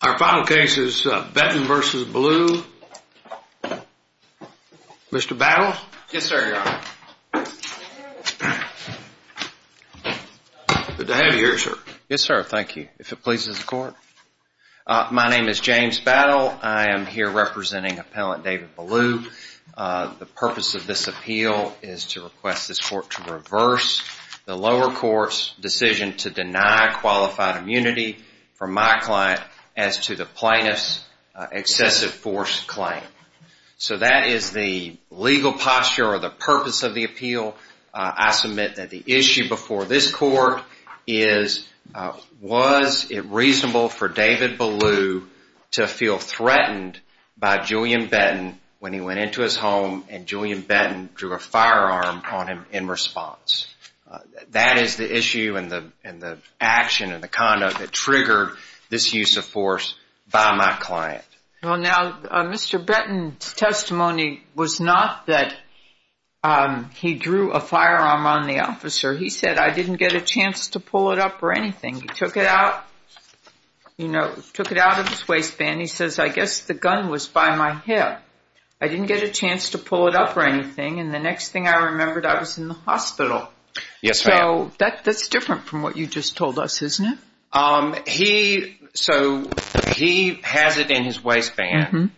Our final case is Betton v. Belue. Mr. Battle? Yes, sir, your honor. Good to have you here, sir. Yes, sir. Thank you. If it pleases the court. My name is James Battle. I am here representing Appellant David Belue. The purpose of this appeal is to request this court to reverse the lower court's decision to deny qualified immunity from my client as to the plaintiff's excessive force claim. So that is the legal posture or the purpose of the appeal. I submit that the issue before this court is was it reasonable for David Belue to feel threatened by Julian Betton when he went into his home and Julian Betton drew a firearm on him in response. That is the issue and the action and the conduct that triggered this use of force by my client. Well, now, Mr. Betton's testimony was not that he drew a firearm on the officer. He said, I didn't get a chance to pull it up or anything. He took it out, you know, took it out of his waistband. He says, I guess the gun was by my hip. I didn't get a chance to pull it up or anything. And the next thing I remembered, I was in the hospital. Yes. So that's different from what you just told us, isn't it? He so he has it in his waistband.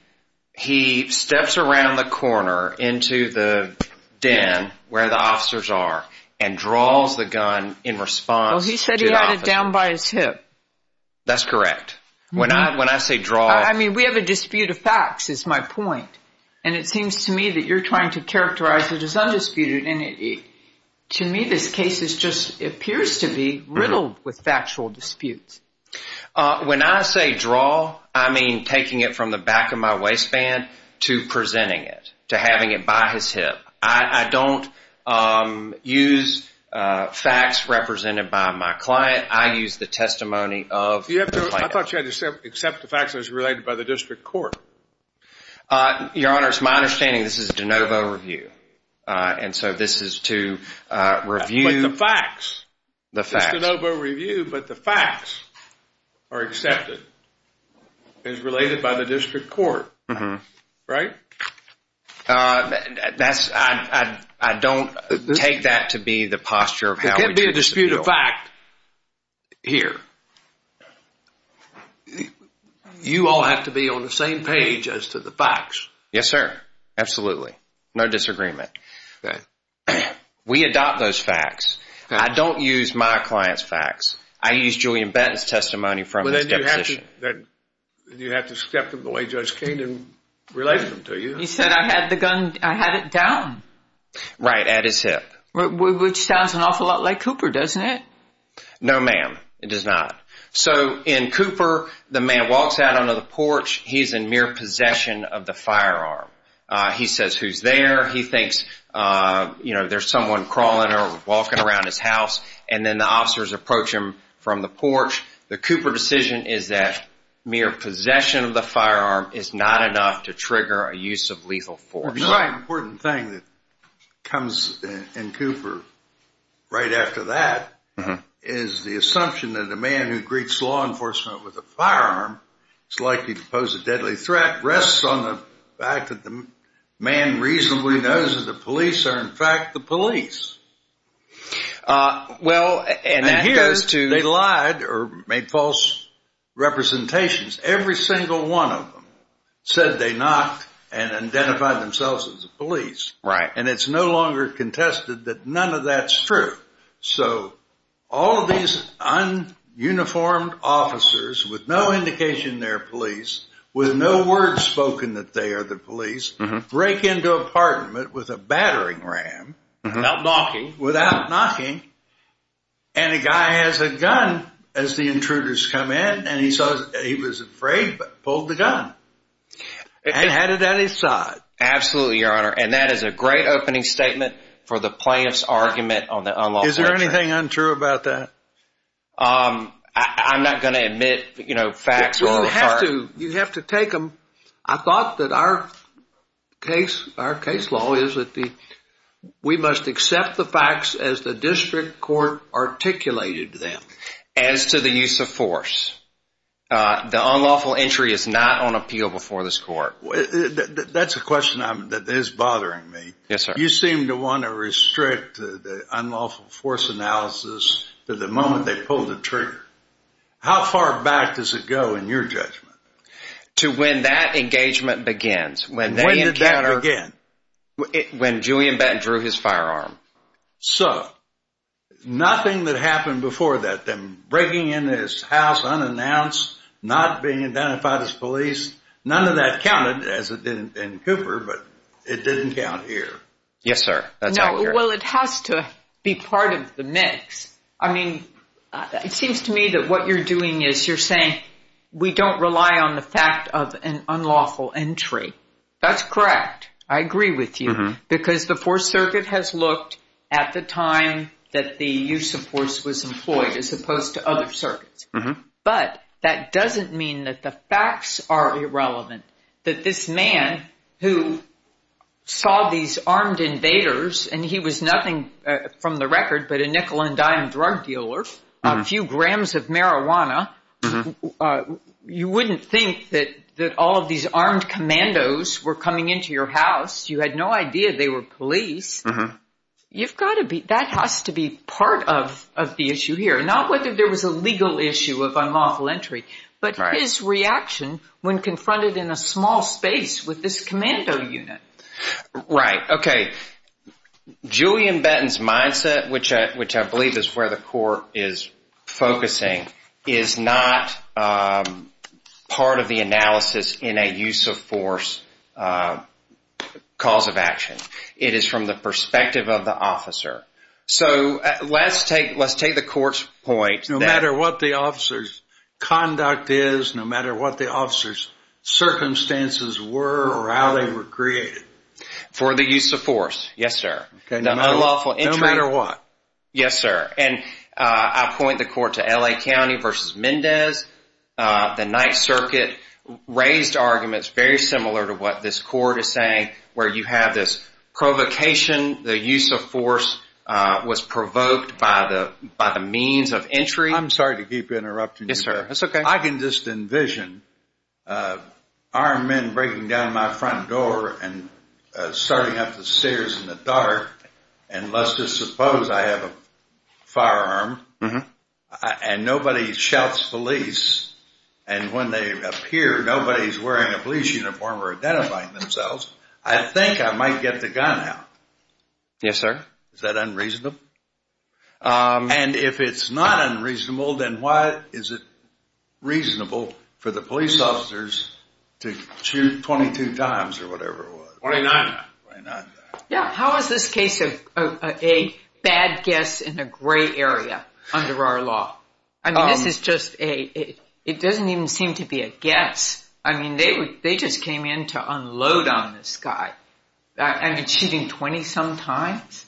He steps around the corner into the den where the officers are and draws the gun in response. He said he had it down by his hip. That's correct. When I when I say draw, I mean, we have a dispute of facts is my point. And it seems to me that you're trying to characterize it as undisputed. And to me, this case is just appears to be riddled with factual disputes. When I say draw, I mean, taking it from the back of my waistband to presenting it to having it by his hip. I don't use facts represented by my client. I use the testimony of you. I thought you had to accept the facts as related by the district court. Your Honor, it's my understanding this is a de novo review. And so this is to review the facts. The facts. It's a de novo review, but the facts are accepted as related by the district court. Mm hmm. Right. That's I don't take that to be the posture. There can't be a dispute of fact here. You all have to be on the same page as to the facts. Yes, sir. Absolutely. No disagreement. We adopt those facts. I don't use my client's facts. I use Julian Benton's testimony from that. You have to step in the way. Judge Keenan related to you. He said I had the gun. I had it down right at his hip, which sounds an awful lot like Cooper, doesn't it? No, ma'am. It does not. So in Cooper, the man walks out onto the porch. He's in mere possession of the firearm. He says who's there. He thinks, you know, there's someone crawling or walking around his house. And then the officers approach him from the porch. The Cooper decision is that mere possession of the firearm is not enough to trigger a use of lethal force. The most important thing that comes in Cooper right after that is the assumption that a man who greets law enforcement with a firearm is likely to pose a deadly threat rests on the fact that the man reasonably knows that the police are, in fact, the police. Well, and that goes to – And here they lied or made false representations. Every single one of them said they knocked and identified themselves as the police. Right. And it's no longer contested that none of that's true. So all of these un-uniformed officers with no indication they're police, with no word spoken that they are the police, break into apartment with a battering ram. Without knocking. Without knocking. And a guy has a gun as the intruders come in. And he was afraid but pulled the gun. And had it at his side. Absolutely, Your Honor. And that is a great opening statement for the plaintiff's argument on the unlawful possession. Is there anything untrue about that? I'm not going to admit, you know, facts. You have to take them. I thought that our case, our case law, is that we must accept the facts as the district court articulated them. As to the use of force, the unlawful entry is not on appeal before this court. That's a question that is bothering me. Yes, sir. You seem to want to restrict the unlawful force analysis to the moment they pull the trigger. How far back does it go in your judgment? To when that engagement begins. When did that begin? When Julian Benton drew his firearm. So, nothing that happened before that, them breaking into his house unannounced, not being identified as police, none of that counted, as it did in Cooper, but it didn't count here. Yes, sir. Well, it has to be part of the mix. I mean, it seems to me that what you're doing is you're saying we don't rely on the fact of an unlawful entry. That's correct. I agree with you because the Fourth Circuit has looked at the time that the use of force was employed as opposed to other circuits. But that doesn't mean that the facts are irrelevant, that this man who saw these armed invaders, and he was nothing from the record but a nickel and dime drug dealer, a few grams of marijuana, you wouldn't think that all of these armed commandos were coming into your house. You had no idea they were police. That has to be part of the issue here. Not whether there was a legal issue of unlawful entry, but his reaction when confronted in a small space with this commando unit. Right. Okay. Julian Benton's mindset, which I believe is where the Court is focusing, is not part of the analysis in a use of force cause of action. It is from the perspective of the officer. So let's take the Court's point. No matter what the officer's conduct is, no matter what the officer's circumstances were or how they were created. For the use of force, yes, sir. No matter what. Yes, sir. And I point the Court to L.A. County versus Mendez. The Ninth Circuit raised arguments very similar to what this Court is saying, where you have this provocation. The use of force was provoked by the means of entry. I'm sorry to keep interrupting you. Yes, sir. It's okay. I can just envision armed men breaking down my front door and starting up the stairs in the dark. And let's just suppose I have a firearm and nobody shouts police. And when they appear, nobody's wearing a police uniform or identifying themselves. I think I might get the gun out. Yes, sir. Is that unreasonable? And if it's not unreasonable, then why is it reasonable for the police officers to shoot 22 times or whatever it was? 29. Yeah. How is this case a bad guess in a gray area under our law? I mean, this is just a – it doesn't even seem to be a guess. I mean, they just came in to unload on this guy. I mean, shooting 20-some times?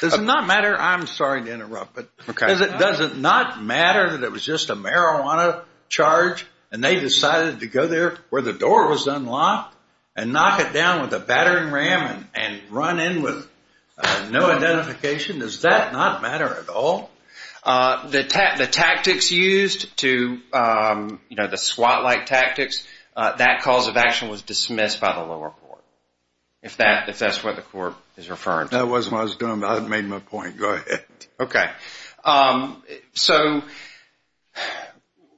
Does it not matter – I'm sorry to interrupt, but does it not matter that it was just a marijuana charge and they decided to go there where the door was unlocked and knock it down with a battering ram and run in with no identification? Does that not matter at all? The tactics used to – you know, the SWAT-like tactics, that cause of action was dismissed by the lower court, if that's what the court is referring to. That wasn't what I was doing, but I made my point. Go ahead. Okay. So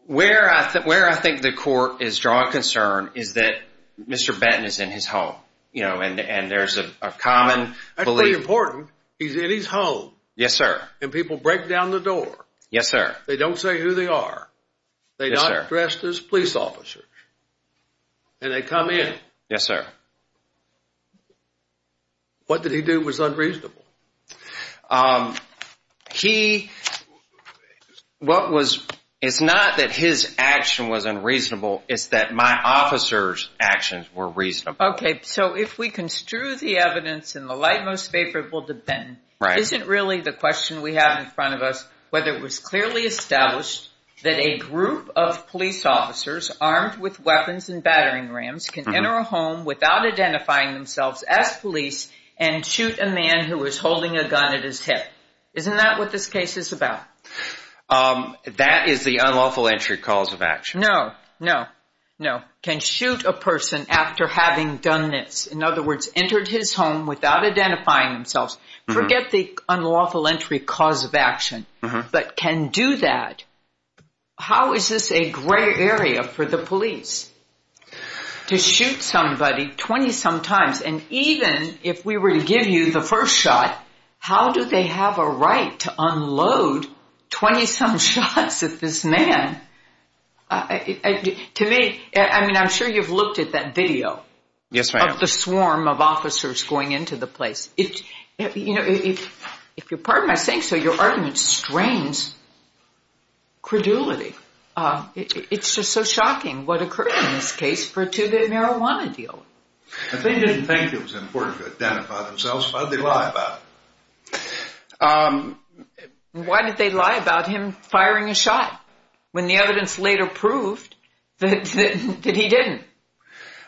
where I think the court is drawing concern is that Mr. Benton is in his home, you know, and there's a common belief – That's pretty important. He's in his home. Yes, sir. And people break down the door. Yes, sir. They don't say who they are. Yes, sir. They're not dressed as police officers. And they come in. Yes, sir. What did he do was unreasonable? He – what was – it's not that his action was unreasonable. It's that my officer's actions were reasonable. Okay. So if we construe the evidence in the light most favorable to Benton, isn't really the question we have in front of us whether it was clearly established that a group of police officers armed with weapons and battering rams can enter a home without identifying themselves as police and shoot a man who is holding a gun at his hip? Isn't that what this case is about? That is the unlawful entry cause of action. No, no, no. Can shoot a person after having done this. In other words, entered his home without identifying themselves. Forget the unlawful entry cause of action, but can do that. How is this a gray area for the police to shoot somebody 20-some times? And even if we were to give you the first shot, how do they have a right to unload 20-some shots at this man? To me – I mean, I'm sure you've looked at that video. Yes, ma'am. Of the swarm of officers going into the place. If you'll pardon my saying so, your argument strains credulity. It's just so shocking what occurred in this case for a two-day marijuana deal. They didn't think it was important to identify themselves. Why did they lie about it? Why did they lie about him firing a shot when the evidence later proved that he didn't?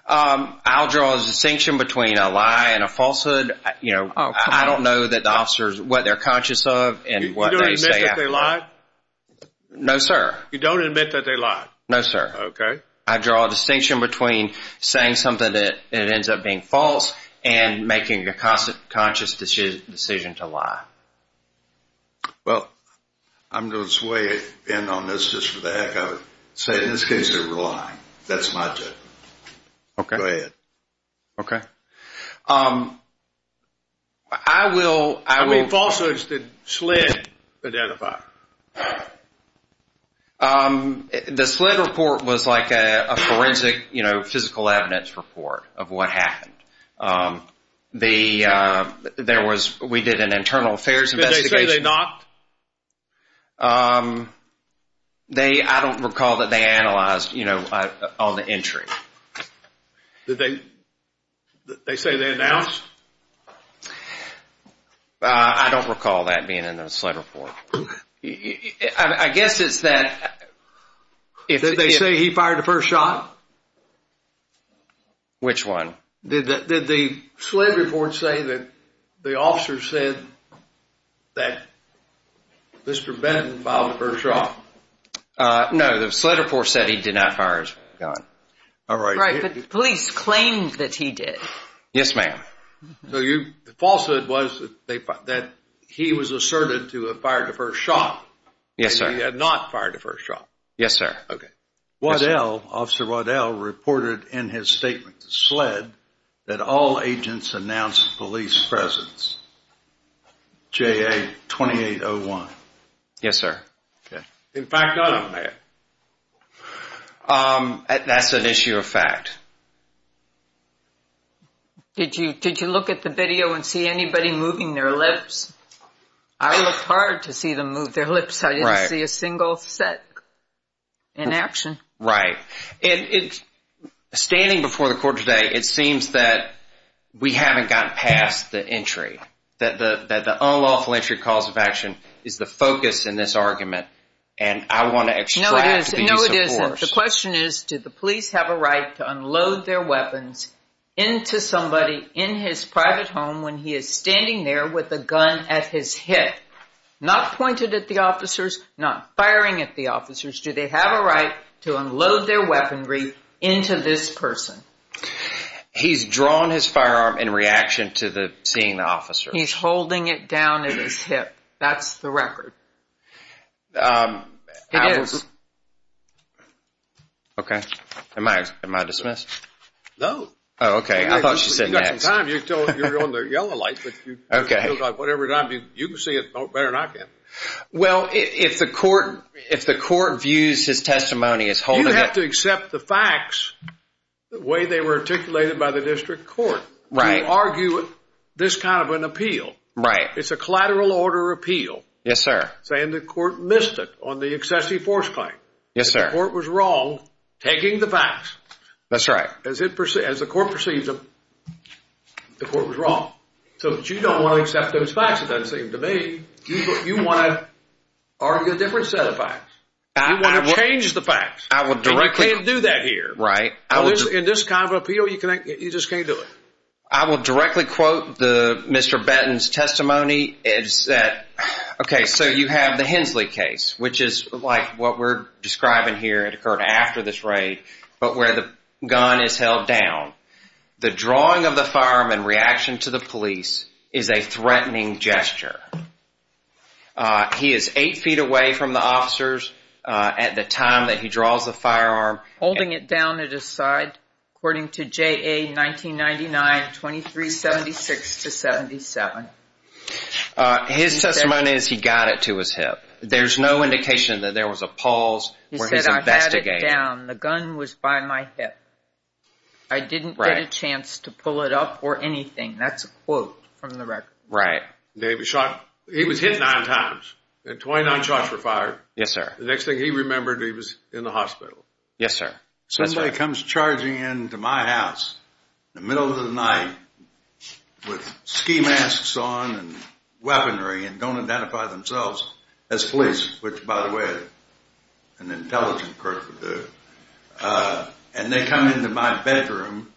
I'll draw a distinction between a lie and a falsehood. I don't know that the officers – what they're conscious of and what they say after. You don't admit that they lied? No, sir. You don't admit that they lied? No, sir. Okay. I draw a distinction between saying something that ends up being false and making a conscious decision to lie. Well, I'm going to sway in on this just for the heck of it. Say, in this case, they were lying. That's my judgment. Okay. Go ahead. Okay. I will – I mean, falsehoods that SLID identified. The SLID report was like a forensic, you know, physical evidence report of what happened. The – there was – we did an internal affairs investigation. Did they say they knocked? They – I don't recall that they analyzed, you know, all the entry. Did they – they say they announced? I don't recall that being in the SLID report. I guess it's that – Did they say he fired the first shot? Which one? Did the SLID report say that the officer said that Mr. Benton fired the first shot? No, the SLID report said he did not fire his gun. All right. Right, but police claimed that he did. Yes, ma'am. So you – the falsehood was that they – that he was asserted to have fired the first shot. Yes, sir. And he had not fired the first shot. Yes, sir. Okay. Waddell – Officer Waddell reported in his statement to SLID that all agents announced police presence. JA-2801. Yes, sir. Okay. In fact – That's an issue of fact. Did you – did you look at the video and see anybody moving their lips? I looked hard to see them move their lips. Right. I didn't see a single set in action. Right. And it – standing before the court today, it seems that we haven't gotten past the entry, that the unlawful entry cause of action is the focus in this argument. And I want to extract the use of force. No, it isn't. No, it isn't. The question is, did the police have a right to unload their weapons into somebody in his private home when he is standing there with a gun at his hip? Not pointed at the officers. Not firing at the officers. Do they have a right to unload their weaponry into this person? He's drawn his firearm in reaction to the – seeing the officer. He's holding it down at his hip. That's the record. It is. Okay. Am I – am I dismissed? No. Oh, okay. I thought she said next. Sometimes you're on the yellow light, but you – Okay. It feels like whatever it is, you can see it better than I can. Well, if the court – if the court views his testimony as holding it – You have to accept the facts the way they were articulated by the district court. Right. To argue this kind of an appeal. Right. It's a collateral order appeal. Yes, sir. Saying the court missed it on the excessive force claim. Yes, sir. That the court was wrong, taking the facts. That's right. As the court perceives them, the court was wrong. So, you don't want to accept those facts, it doesn't seem to me. You want to argue a different set of facts. You want to change the facts. I will directly – And you can't do that here. Right. In this kind of appeal, you just can't do it. I will directly quote Mr. Benton's testimony. It said – okay, so you have the Hensley case, which is like what we're describing here. It occurred after this raid. But where the gun is held down. The drawing of the firearm in reaction to the police is a threatening gesture. He is eight feet away from the officers at the time that he draws the firearm. Holding it down at his side, according to JA 1999-2376-77. His testimony is he got it to his hip. There's no indication that there was a pause where he's investigating. I didn't get it down. The gun was by my hip. I didn't get a chance to pull it up or anything. That's a quote from the record. Right. He was hit nine times. Twenty-nine shots were fired. Yes, sir. The next thing he remembered, he was in the hospital. Yes, sir. Somebody comes charging into my house in the middle of the night with ski masks on and weaponry and don't identify themselves as police, which, by the way, an intelligent person would do. And they come into my bedroom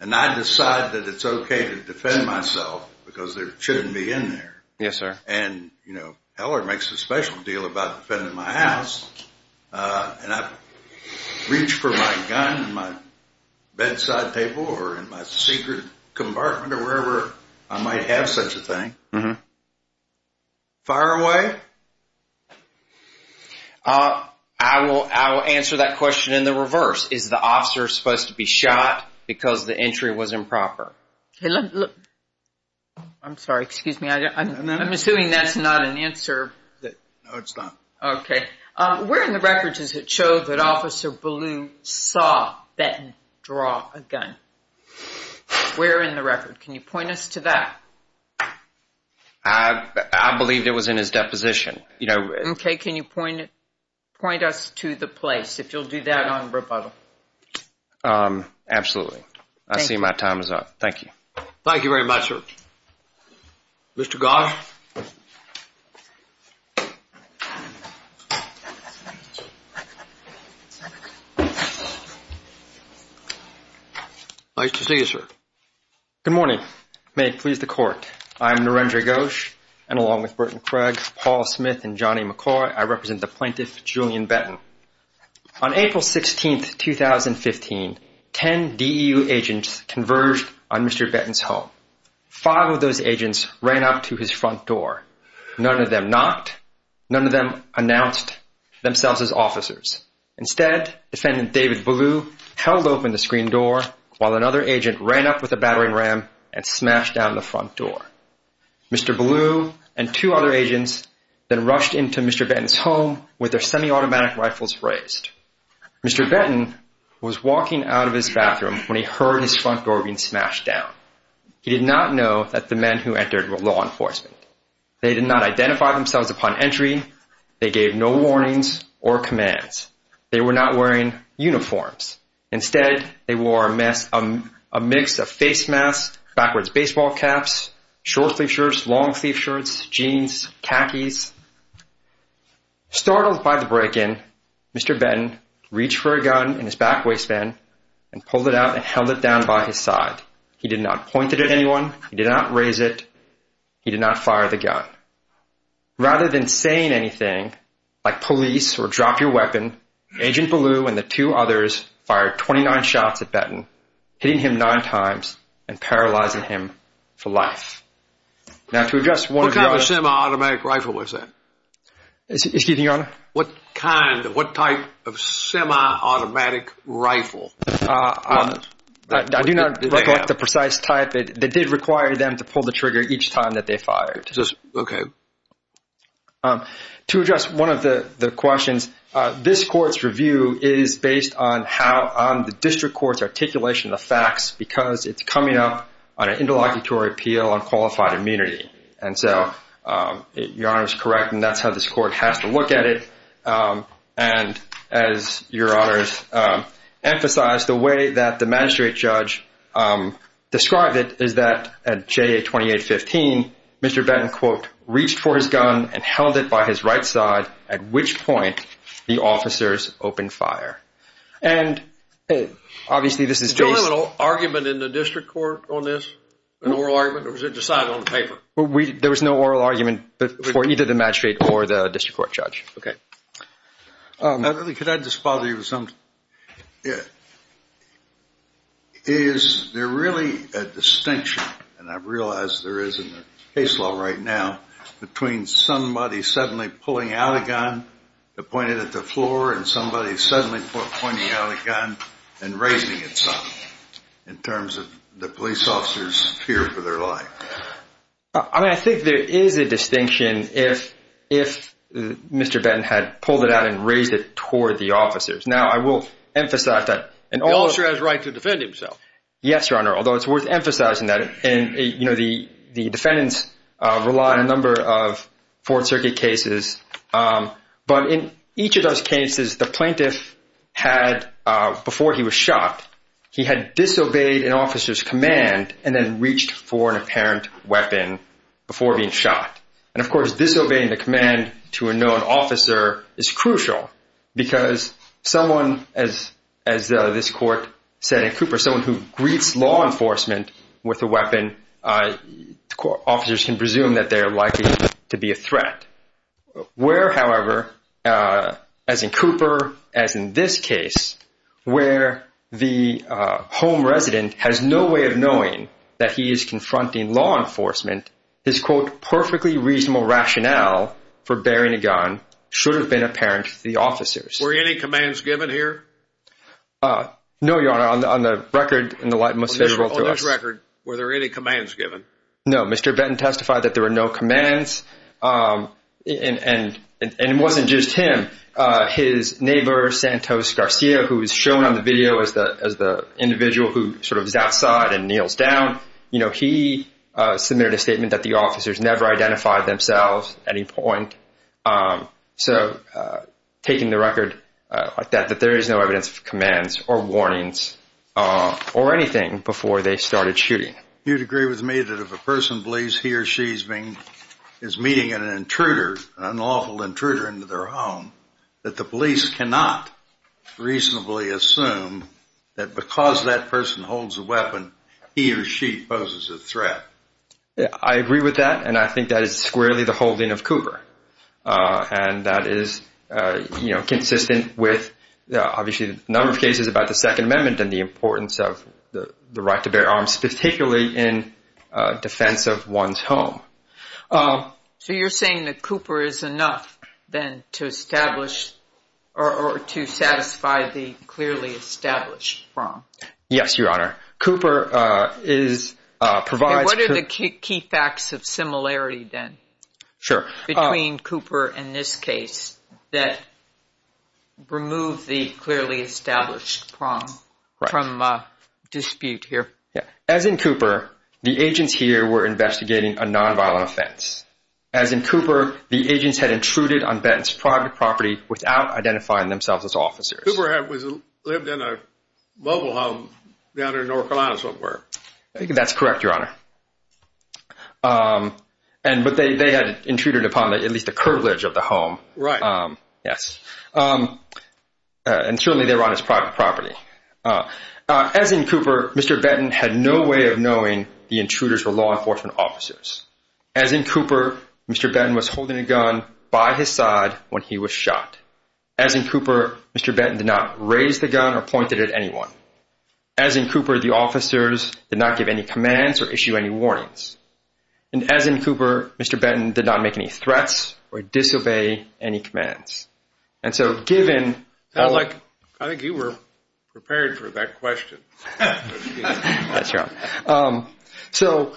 and I decide that it's okay to defend myself because they shouldn't be in there. Yes, sir. And, you know, Heller makes a special deal about defending my house. And I reach for my gun in my bedside table or in my secret compartment or wherever I might have such a thing. Fire away? I will answer that question in the reverse. Is the officer supposed to be shot because the entry was improper? I'm sorry. Excuse me. I'm assuming that's not an answer. No, it's not. Okay. Where in the record does it show that Officer Ballou saw Benton draw a gun? Where in the record? Can you point us to that? I believe it was in his deposition. Okay. Can you point us to the place if you'll do that on rebuttal? Absolutely. I see my time is up. Thank you. Thank you very much, sir. Mr. Goss? Nice to see you, sir. Good morning. May it please the court. I'm Narendra Goss, and along with Burton Craig, Paul Smith, and Johnny McCoy, I represent the plaintiff, Julian Benton. On April 16, 2015, 10 DEU agents converged on Mr. Benton's home. Five of those agents ran up to his front door. None of them knocked. None of them announced themselves as officers. Instead, Defendant David Ballou held open the screen door while another agent ran up with a battering ram and smashed down the front door. Mr. Ballou and two other agents then rushed into Mr. Benton's home with their semi-automatic rifles raised. Mr. Benton was walking out of his bathroom when he heard his front door being smashed down. He did not know that the men who entered were law enforcement. They did not identify themselves upon entry. They gave no warnings or commands. They were not wearing uniforms. Instead, they wore a mix of face masks, backwards baseball caps, short-sleeved shirts, long-sleeved shirts, jeans, khakis. Startled by the break-in, Mr. Benton reached for a gun in his back waistband and pulled it out and held it down by his side. He did not point it at anyone. He did not raise it. He did not fire the gun. Rather than saying anything, like police or drop your weapon, Agent Ballou and the two others fired 29 shots at Benton, hitting him nine times and paralyzing him for life. Now, to address one of your... What kind of semi-automatic rifle was that? Excuse me, Your Honor? What kind, what type of semi-automatic rifle was that? I do not recollect the precise type. It did require them to pull the trigger each time that they fired. Okay. To address one of the questions, this court's review is based on how the district court's articulation of the facts because it's coming up on an interlocutory appeal on qualified immunity. And so Your Honor is correct, and that's how this court has to look at it. And as Your Honors emphasized, the way that the magistrate judge described it is that at J.A. 2815, Mr. Benton, quote, reached for his gun and held it by his right side, at which point the officers opened fire. And obviously this is based... Did you have an argument in the district court on this, an oral argument, or was it decided on paper? There was no oral argument for either the magistrate or the district court judge. Okay. Could I just bother you with something? Yeah. Is there really a distinction, and I realize there is in the case law right now, between somebody suddenly pulling out a gun and pointing it at the floor and somebody suddenly pointing out a gun and raising it up in terms of the police officers' fear for their life? I mean, I think there is a distinction if Mr. Benton had pulled it out and raised it toward the officers. Now, I will emphasize that... The officer has a right to defend himself. Yes, Your Honor, although it's worth emphasizing that. And, you know, the defendants rely on a number of Fourth Circuit cases. But in each of those cases, the plaintiff had, before he was shot, he had disobeyed an officer's command and then reached for an apparent weapon before being shot. And, of course, disobeying the command to a known officer is crucial because someone, as this court said in Cooper, someone who greets law enforcement with a weapon, officers can presume that they are likely to be a threat. Where, however, as in Cooper, as in this case, where the home resident has no way of knowing that he is confronting law enforcement, his, quote, perfectly reasonable rationale for bearing a gun should have been apparent to the officers. Were any commands given here? No, Your Honor, on the record in the light most favorable to us... On this record, were there any commands given? No, Mr. Benton testified that there were no commands. And it wasn't just him. His neighbor, Santos Garcia, who is shown on the video as the individual who sort of is outside and kneels down, you know, he submitted a statement that the officers never identified themselves at any point. So taking the record like that, that there is no evidence of commands or warnings or anything before they started shooting. You would agree with me that if a person believes he or she is meeting an intruder, an unlawful intruder into their home, that the police cannot reasonably assume that because that person holds a weapon, he or she poses a threat? I agree with that, and I think that is squarely the holding of Cooper. And that is, you know, consistent with obviously a number of cases about the Second Amendment and the importance of the right to bear arms, particularly in defense of one's home. So you're saying that Cooper is enough then to establish or to satisfy the clearly established prong? Yes, Your Honor. Cooper is, provides... What are the key facts of similarity then? Sure. Between Cooper and this case that remove the clearly established prong from dispute here. As in Cooper, the agents here were investigating a nonviolent offense. As in Cooper, the agents had intruded on Benton's private property without identifying themselves as officers. Cooper had lived in a mobile home down in North Carolina somewhere. That's correct, Your Honor. But they had intruded upon at least the privilege of the home. Right. Yes. And certainly they were on his private property. As in Cooper, Mr. Benton had no way of knowing the intruders were law enforcement officers. As in Cooper, Mr. Benton was holding a gun by his side when he was shot. As in Cooper, Mr. Benton did not raise the gun or point it at anyone. As in Cooper, the officers did not give any commands or issue any warnings. And as in Cooper, Mr. Benton did not make any threats or disobey any commands. And so given... I think you were prepared for that question. Yes, Your Honor. So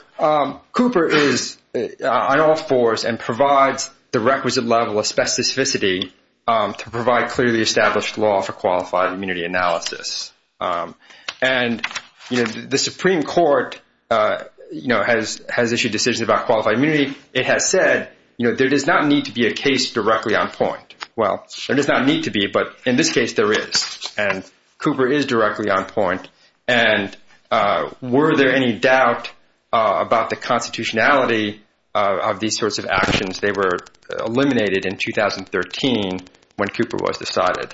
Cooper is on all fours and provides the requisite level of specificity to provide clearly established law for qualified immunity analysis. And the Supreme Court has issued decisions about qualified immunity. It has said there does not need to be a case directly on point. Well, there does not need to be, but in this case there is. And Cooper is directly on point. And were there any doubt about the constitutionality of these sorts of actions? They were eliminated in 2013 when Cooper was decided.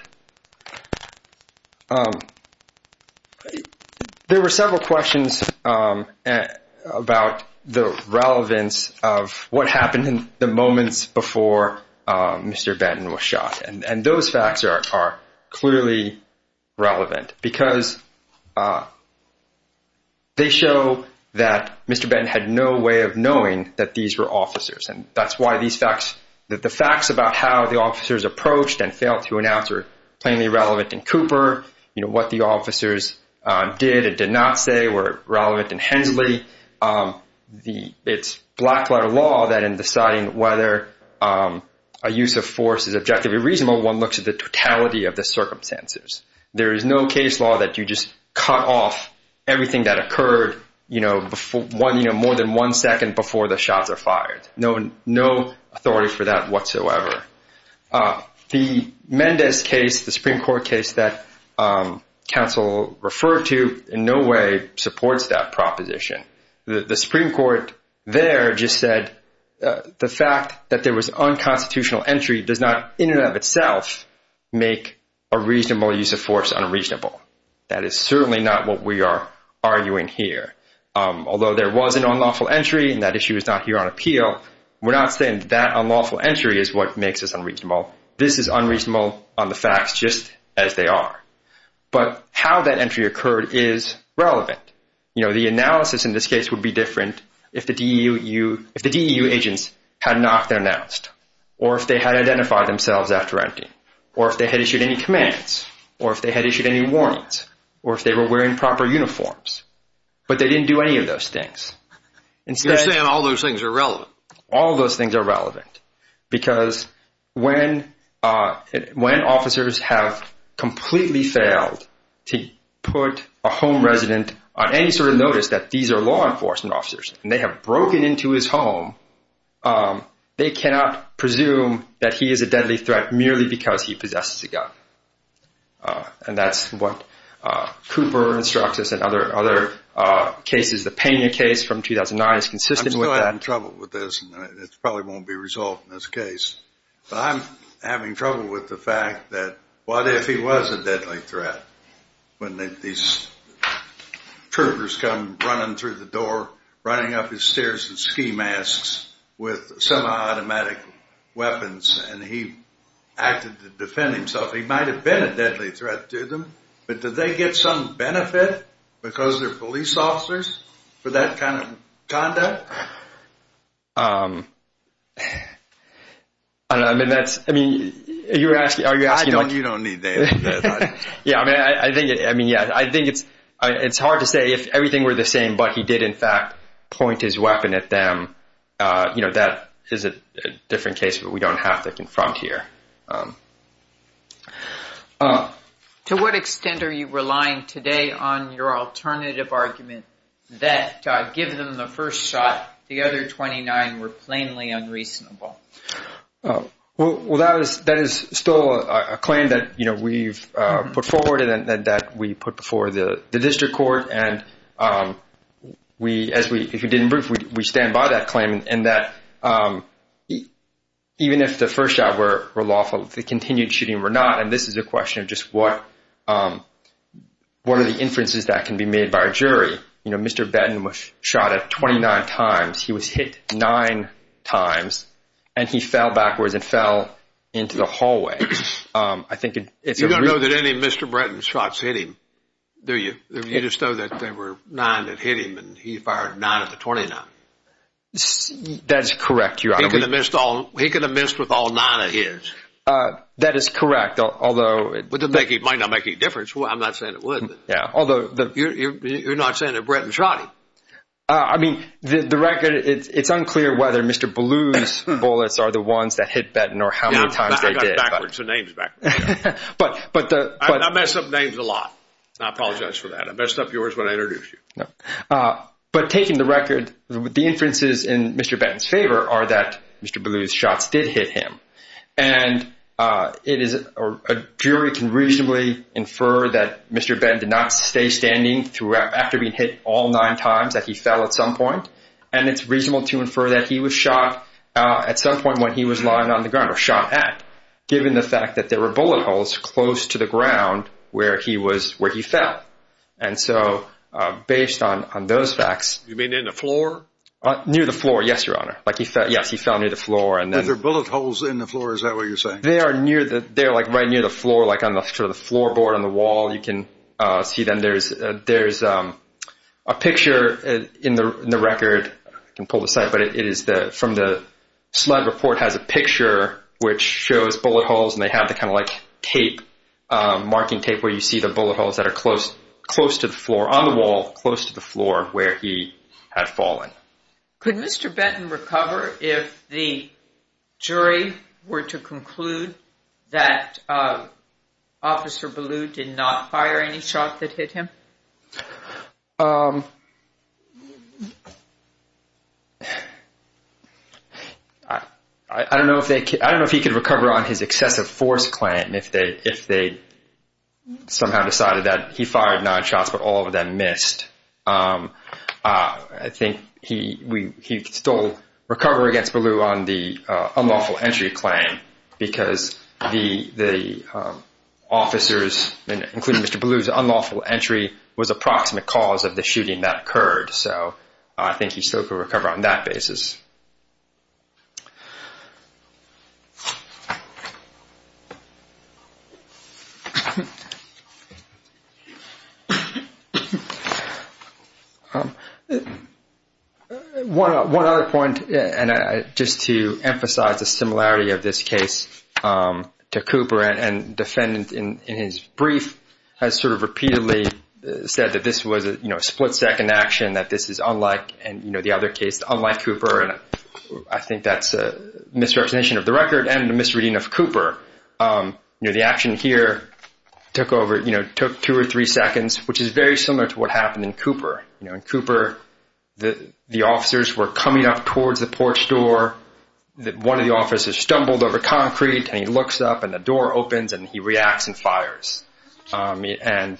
There were several questions about the relevance of what happened in the moments before Mr. Benton was shot. And those facts are clearly relevant. Because they show that Mr. Benton had no way of knowing that these were officers. And that's why the facts about how the officers approached and failed to announce are plainly relevant in Cooper. What the officers did and did not say were relevant in Hensley. It's black-letter law that in deciding whether a use of force is objectively reasonable, one looks at the totality of the circumstances. There is no case law that you just cut off everything that occurred more than one second before the shots are fired. No authority for that whatsoever. The Mendez case, the Supreme Court case that counsel referred to, in no way supports that proposition. The Supreme Court there just said the fact that there was unconstitutional entry does not in and of itself make a reasonable use of force unreasonable. That is certainly not what we are arguing here. Although there was an unlawful entry and that issue is not here on appeal, we're not saying that unlawful entry is what makes this unreasonable. This is unreasonable on the facts just as they are. But how that entry occurred is relevant. The analysis in this case would be different if the DEU agents had not been announced or if they had identified themselves after entry or if they had issued any commands or if they had issued any warnings or if they were wearing proper uniforms. But they didn't do any of those things. You're saying all those things are relevant. All those things are relevant because when officers have completely failed to put a home resident on any sort of notice that these are law enforcement officers and they have broken into his home, they cannot presume that he is a deadly threat merely because he possesses a gun. And that's what Cooper instructs us and other cases. I'm still having trouble with this and it probably won't be resolved in this case. But I'm having trouble with the fact that what if he was a deadly threat when these troopers come running through the door, running up the stairs in ski masks with semi-automatic weapons and he acted to defend himself. He might have been a deadly threat to them. But did they get some benefit because they're police officers for that kind of conduct? I don't know. I mean, you're asking. You don't need that. Yeah. I mean, I think it's hard to say if everything were the same, but he did, in fact, point his weapon at them. That is a different case, but we don't have to confront here. To what extent are you relying today on your alternative argument that given the first shot, the other 29 were plainly unreasonable? Well, that is still a claim that we've put forward and that we put before the district court. And we, as we did in brief, we stand by that claim and that even if the first shot were lawful, the continued shooting were not. And this is a question of just what are the inferences that can be made by a jury? You know, Mr. Benton was shot at 29 times. He was hit nine times and he fell backwards and fell into the hallway. You don't know that any of Mr. Benton's shots hit him, do you? You just know that there were nine that hit him and he fired nine of the 29. That is correct, Your Honor. He could have missed with all nine of his. That is correct, although. But it might not make any difference. I'm not saying it would. Yeah, although. You're not saying that Benton shot him. I mean, the record, it's unclear whether Mr. Blue's bullets are the ones that hit Benton or how many times they did. I mess up names a lot. I apologize for that. I messed up yours when I introduced you. But taking the record, the inferences in Mr. Benton's favor are that Mr. Blue's shots did hit him. And a jury can reasonably infer that Mr. Benton did not stay standing after being hit all nine times, that he fell at some point. And it's reasonable to infer that he was shot at some point when he was lying on the ground, or shot at, given the fact that there were bullet holes close to the ground where he fell. And so based on those facts. You mean in the floor? Near the floor, yes, Your Honor. Yes, he fell near the floor. Are there bullet holes in the floor? Is that what you're saying? They are right near the floor, like on the floorboard on the wall. You can see then there's a picture in the record. I can pull this up. But it is from the slide report has a picture which shows bullet holes. And they have the kind of like tape, marking tape, where you see the bullet holes that are close to the floor on the wall, close to the floor where he had fallen. Could Mr. Benton recover if the jury were to conclude that Officer Ballew did not fire any shot that hit him? I don't know if he could recover on his excessive force claim if they somehow decided that he fired nine shots, but all of them missed. I think he could still recover against Ballew on the unlawful entry claim because the officers, including Mr. Ballew's unlawful entry, was the proximate cause of the shooting that occurred. So I think he still could recover on that basis. One other point, and just to emphasize the similarity of this case to Cooper, and defendant in his brief has sort of repeatedly said that this was a split-second action, that this is unlike the other case, unlike Cooper. And I think that's a misrepresentation of the record and a misreading of Cooper. The action here took over, took two or three seconds, which is very similar to what happened in Cooper. In Cooper, the officers were coming up towards the porch door. One of the officers stumbled over concrete, and he looks up, and the door opens, and he reacts and fires. And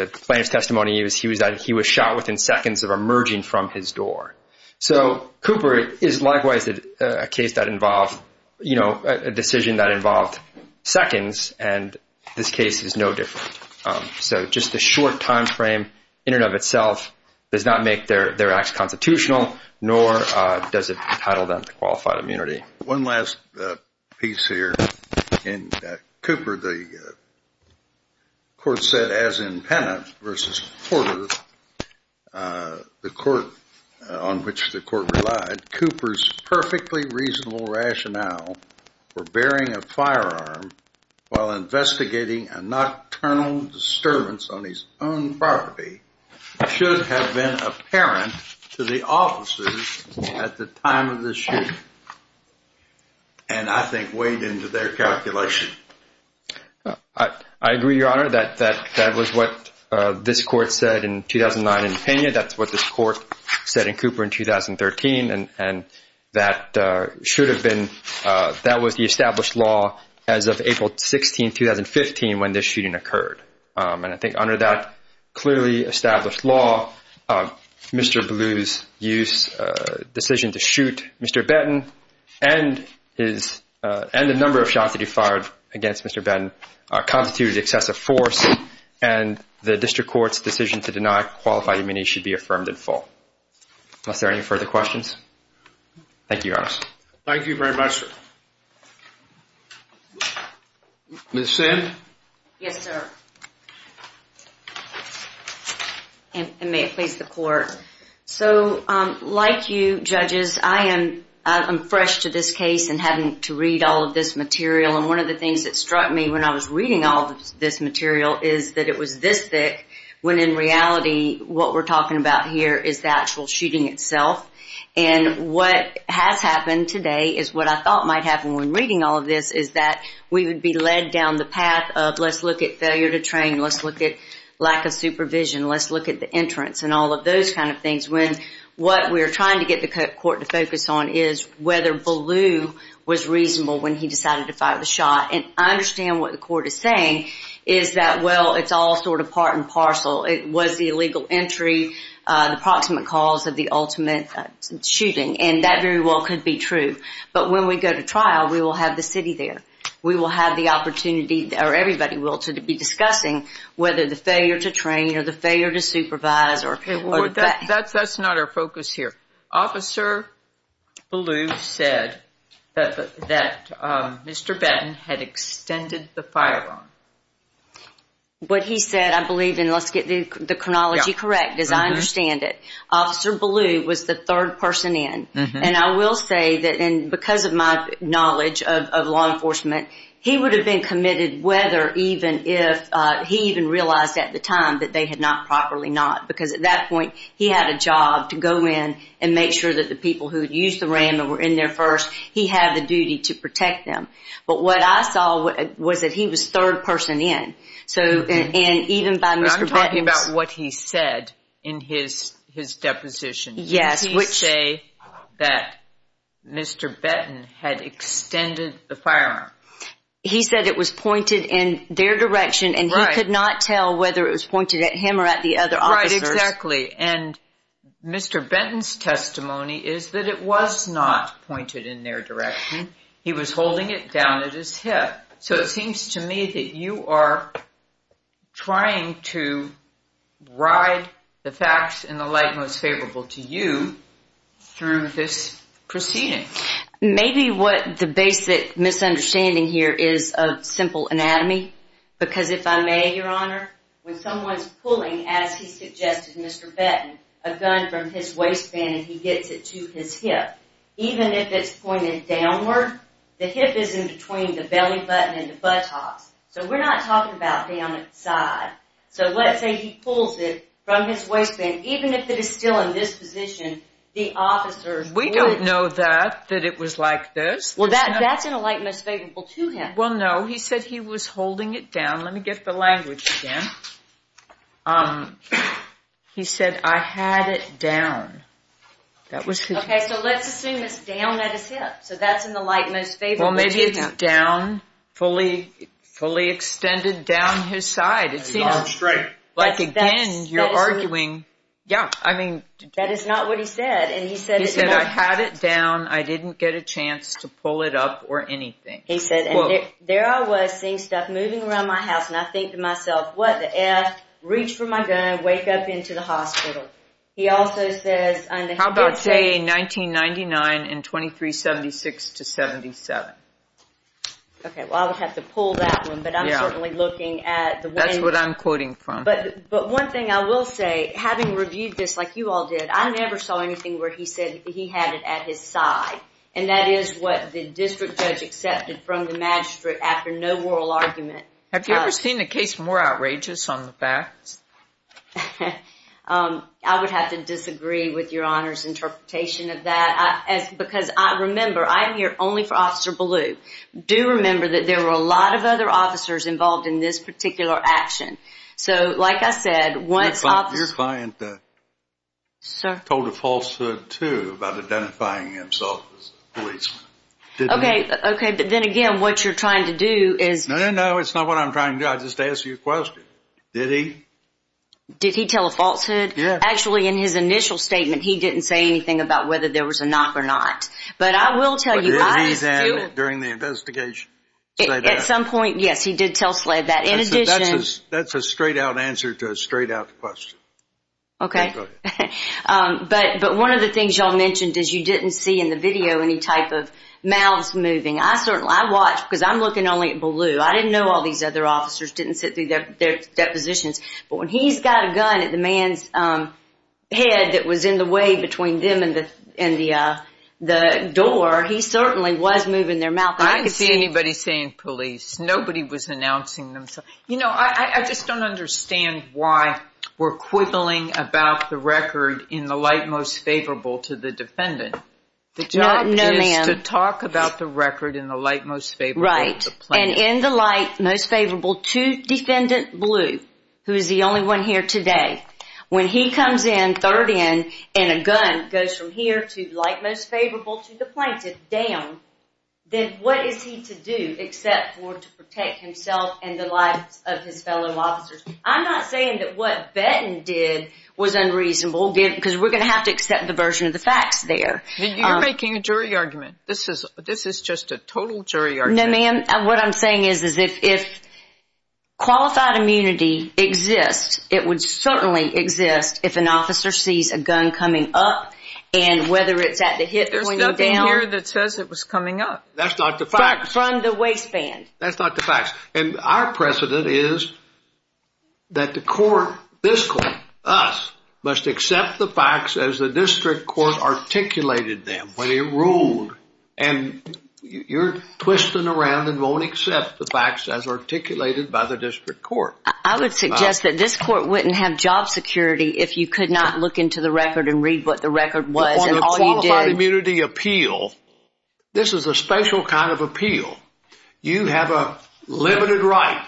the plaintiff's testimony is that he was shot within seconds of emerging from his door. So Cooper is likewise a decision that involved seconds, and this case is no different. So just the short time frame in and of itself does not make their acts constitutional, nor does it entitle them to qualified immunity. One last piece here. In Cooper, the court said, as in Penna v. Porter, the court on which the court relied, that Cooper's perfectly reasonable rationale for bearing a firearm while investigating a nocturnal disturbance on his own property should have been apparent to the officers at the time of the shooting, and I think weighed into their calculation. I agree, Your Honor, that that was what this court said in 2009 in Penna. That's what this court said in Cooper in 2013, and that was the established law as of April 16, 2015, when this shooting occurred. And I think under that clearly established law, Mr. Blue's decision to shoot Mr. Benton and the number of shots that he fired against Mr. Benton constituted excessive force, and the district court's decision to deny qualified immunity should be affirmed in full. Are there any further questions? Thank you, Your Honor. Thank you very much, sir. Ms. Sand? Yes, sir. And may it please the Court. So like you, judges, I am fresh to this case and having to read all of this material, and one of the things that struck me when I was reading all of this material is that it was this thick when in reality what we're talking about here is the actual shooting itself. And what has happened today is what I thought might happen when reading all of this is that we would be led down the path of let's look at failure to train, let's look at lack of supervision, let's look at the entrance and all of those kind of things when what we're trying to get the court to focus on is whether Blue was reasonable when he decided to fire the shot. And I understand what the court is saying is that, well, it's all sort of part and parcel. It was the illegal entry, the proximate cause of the ultimate shooting, and that very well could be true. But when we go to trial, we will have the city there. We will have the opportunity, or everybody will, to be discussing whether the failure to train or the failure to supervise or the fact. That's not our focus here. Officer Blue said that Mr. Batten had extended the firearm. What he said, I believe, and let's get the chronology correct as I understand it, Officer Blue was the third person in. And I will say that because of my knowledge of law enforcement, he would have been committed whether even if he even realized at the time that they had not properly not because at that point he had a job to go in and make sure that the people who had used the ram and were in there first, he had the duty to protect them. But what I saw was that he was third person in. And even by Mr. Batten's... But I'm talking about what he said in his deposition. Yes. Did he say that Mr. Batten had extended the firearm? He said it was pointed in their direction, and he could not tell whether it was pointed at him or at the other officers. Right, exactly. And Mr. Benton's testimony is that it was not pointed in their direction. He was holding it down at his hip. So it seems to me that you are trying to ride the facts in the light most favorable to you through this proceeding. Maybe what the basic misunderstanding here is a simple anatomy because if I may, Your Honor, when someone's pulling, as he suggested, Mr. Batten, a gun from his waistband, and he gets it to his hip, even if it's pointed downward, the hip is in between the belly button and the buttocks. So we're not talking about down at the side. So let's say he pulls it from his waistband. Even if it is still in this position, the officers would... We don't know that, that it was like this. Well, that's in a light most favorable to him. Well, no. He said he was holding it down. Let me get the language again. He said, I had it down. That was his... Okay, so let's assume it's down at his hip. So that's in the light most favorable to him. Well, maybe it's down, fully extended down his side. It seems like, again, you're arguing... Yeah, I mean... That is not what he said. He said, I had it down. I didn't get a chance to pull it up or anything. He said, there I was seeing stuff moving around my house, and I think to myself, what the F? Reach for my gun, wake up into the hospital. He also says... How about saying 1999 and 2376 to 77? Okay, well, I would have to pull that one, but I'm certainly looking at the... That's what I'm quoting from. But one thing I will say, having reviewed this like you all did, I never saw anything where he said he had it at his side, and that is what the district judge accepted from the magistrate after no oral argument. Have you ever seen a case more outrageous on the facts? I would have to disagree with your Honor's interpretation of that, because remember, I'm here only for Officer Ballou. Do remember that there were a lot of other officers involved in this particular action. So, like I said, once Officer... Your client told a falsehood, too, about identifying himself. Okay, but then again, what you're trying to do is... No, no, no, it's not what I'm trying to do. I just asked you a question. Did he? Did he tell a falsehood? Yeah. Actually, in his initial statement, he didn't say anything about whether there was a knock or not. But I will tell you... But did he then, during the investigation, say that? At some point, yes, he did tell Sled that. In addition... That's a straight-out answer to a straight-out question. Okay. Go ahead. But one of the things y'all mentioned is you didn't see in the video any type of mouths moving. I certainly... I watched, because I'm looking only at Ballou. I didn't know all these other officers didn't sit through their depositions. But when he's got a gun at the man's head that was in the way between them and the door, he certainly was moving their mouth. I didn't see anybody saying police. Nobody was announcing themselves. You know, I just don't understand why we're quibbling about the record in the light most favorable to the defendant. No, ma'am. The job is to talk about the record in the light most favorable to the plaintiff. Right. And in the light most favorable to Defendant Ballou, who is the only one here today, when he comes in, third in, and a gun goes from here to light most favorable to the plaintiff, down, then what is he to do except to protect himself and the lives of his fellow officers? I'm not saying that what Benton did was unreasonable, because we're going to have to accept the version of the facts there. You're making a jury argument. This is just a total jury argument. No, ma'am. What I'm saying is if qualified immunity exists, it would certainly exist if an officer sees a gun coming up, and whether it's at the hip or pointing down... That's not the facts. ...from the waistband. That's not the facts. And our precedent is that the court, this court, us, must accept the facts as the district court articulated them when it ruled, and you're twisting around and won't accept the facts as articulated by the district court. I would suggest that this court wouldn't have job security if you could not look into the record and read what the record was and all you did... This is a special kind of appeal. You have a limited right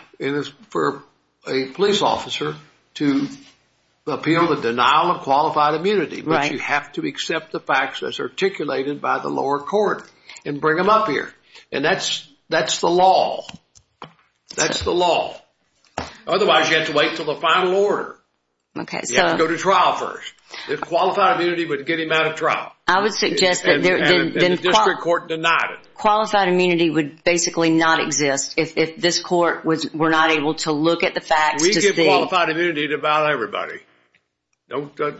for a police officer to appeal the denial of qualified immunity, but you have to accept the facts as articulated by the lower court and bring them up here, and that's the law. That's the law. Otherwise, you have to wait until the final order. Okay, so... You have to go to trial first. If qualified immunity would get him out of trial... Qualified immunity would basically not exist if this court were not able to look at the facts to see... We give qualified immunity to about everybody. Don't start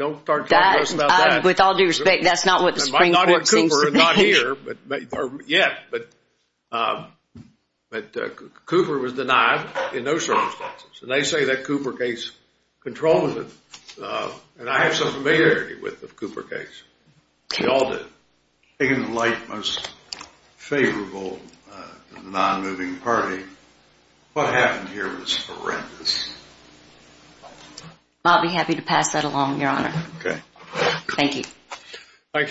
talking to us about that. With all due respect, that's not what the Supreme Court seems to be. I'm not here, Cooper. I'm not here yet, but Cooper was denied in those circumstances, and they say that Cooper case controls it, and I have some familiarity with the Cooper case. We all do. Taking the light most favorable to the nonmoving party, what happened here was horrendous. I'll be happy to pass that along, Your Honor. Thank you. Thank you.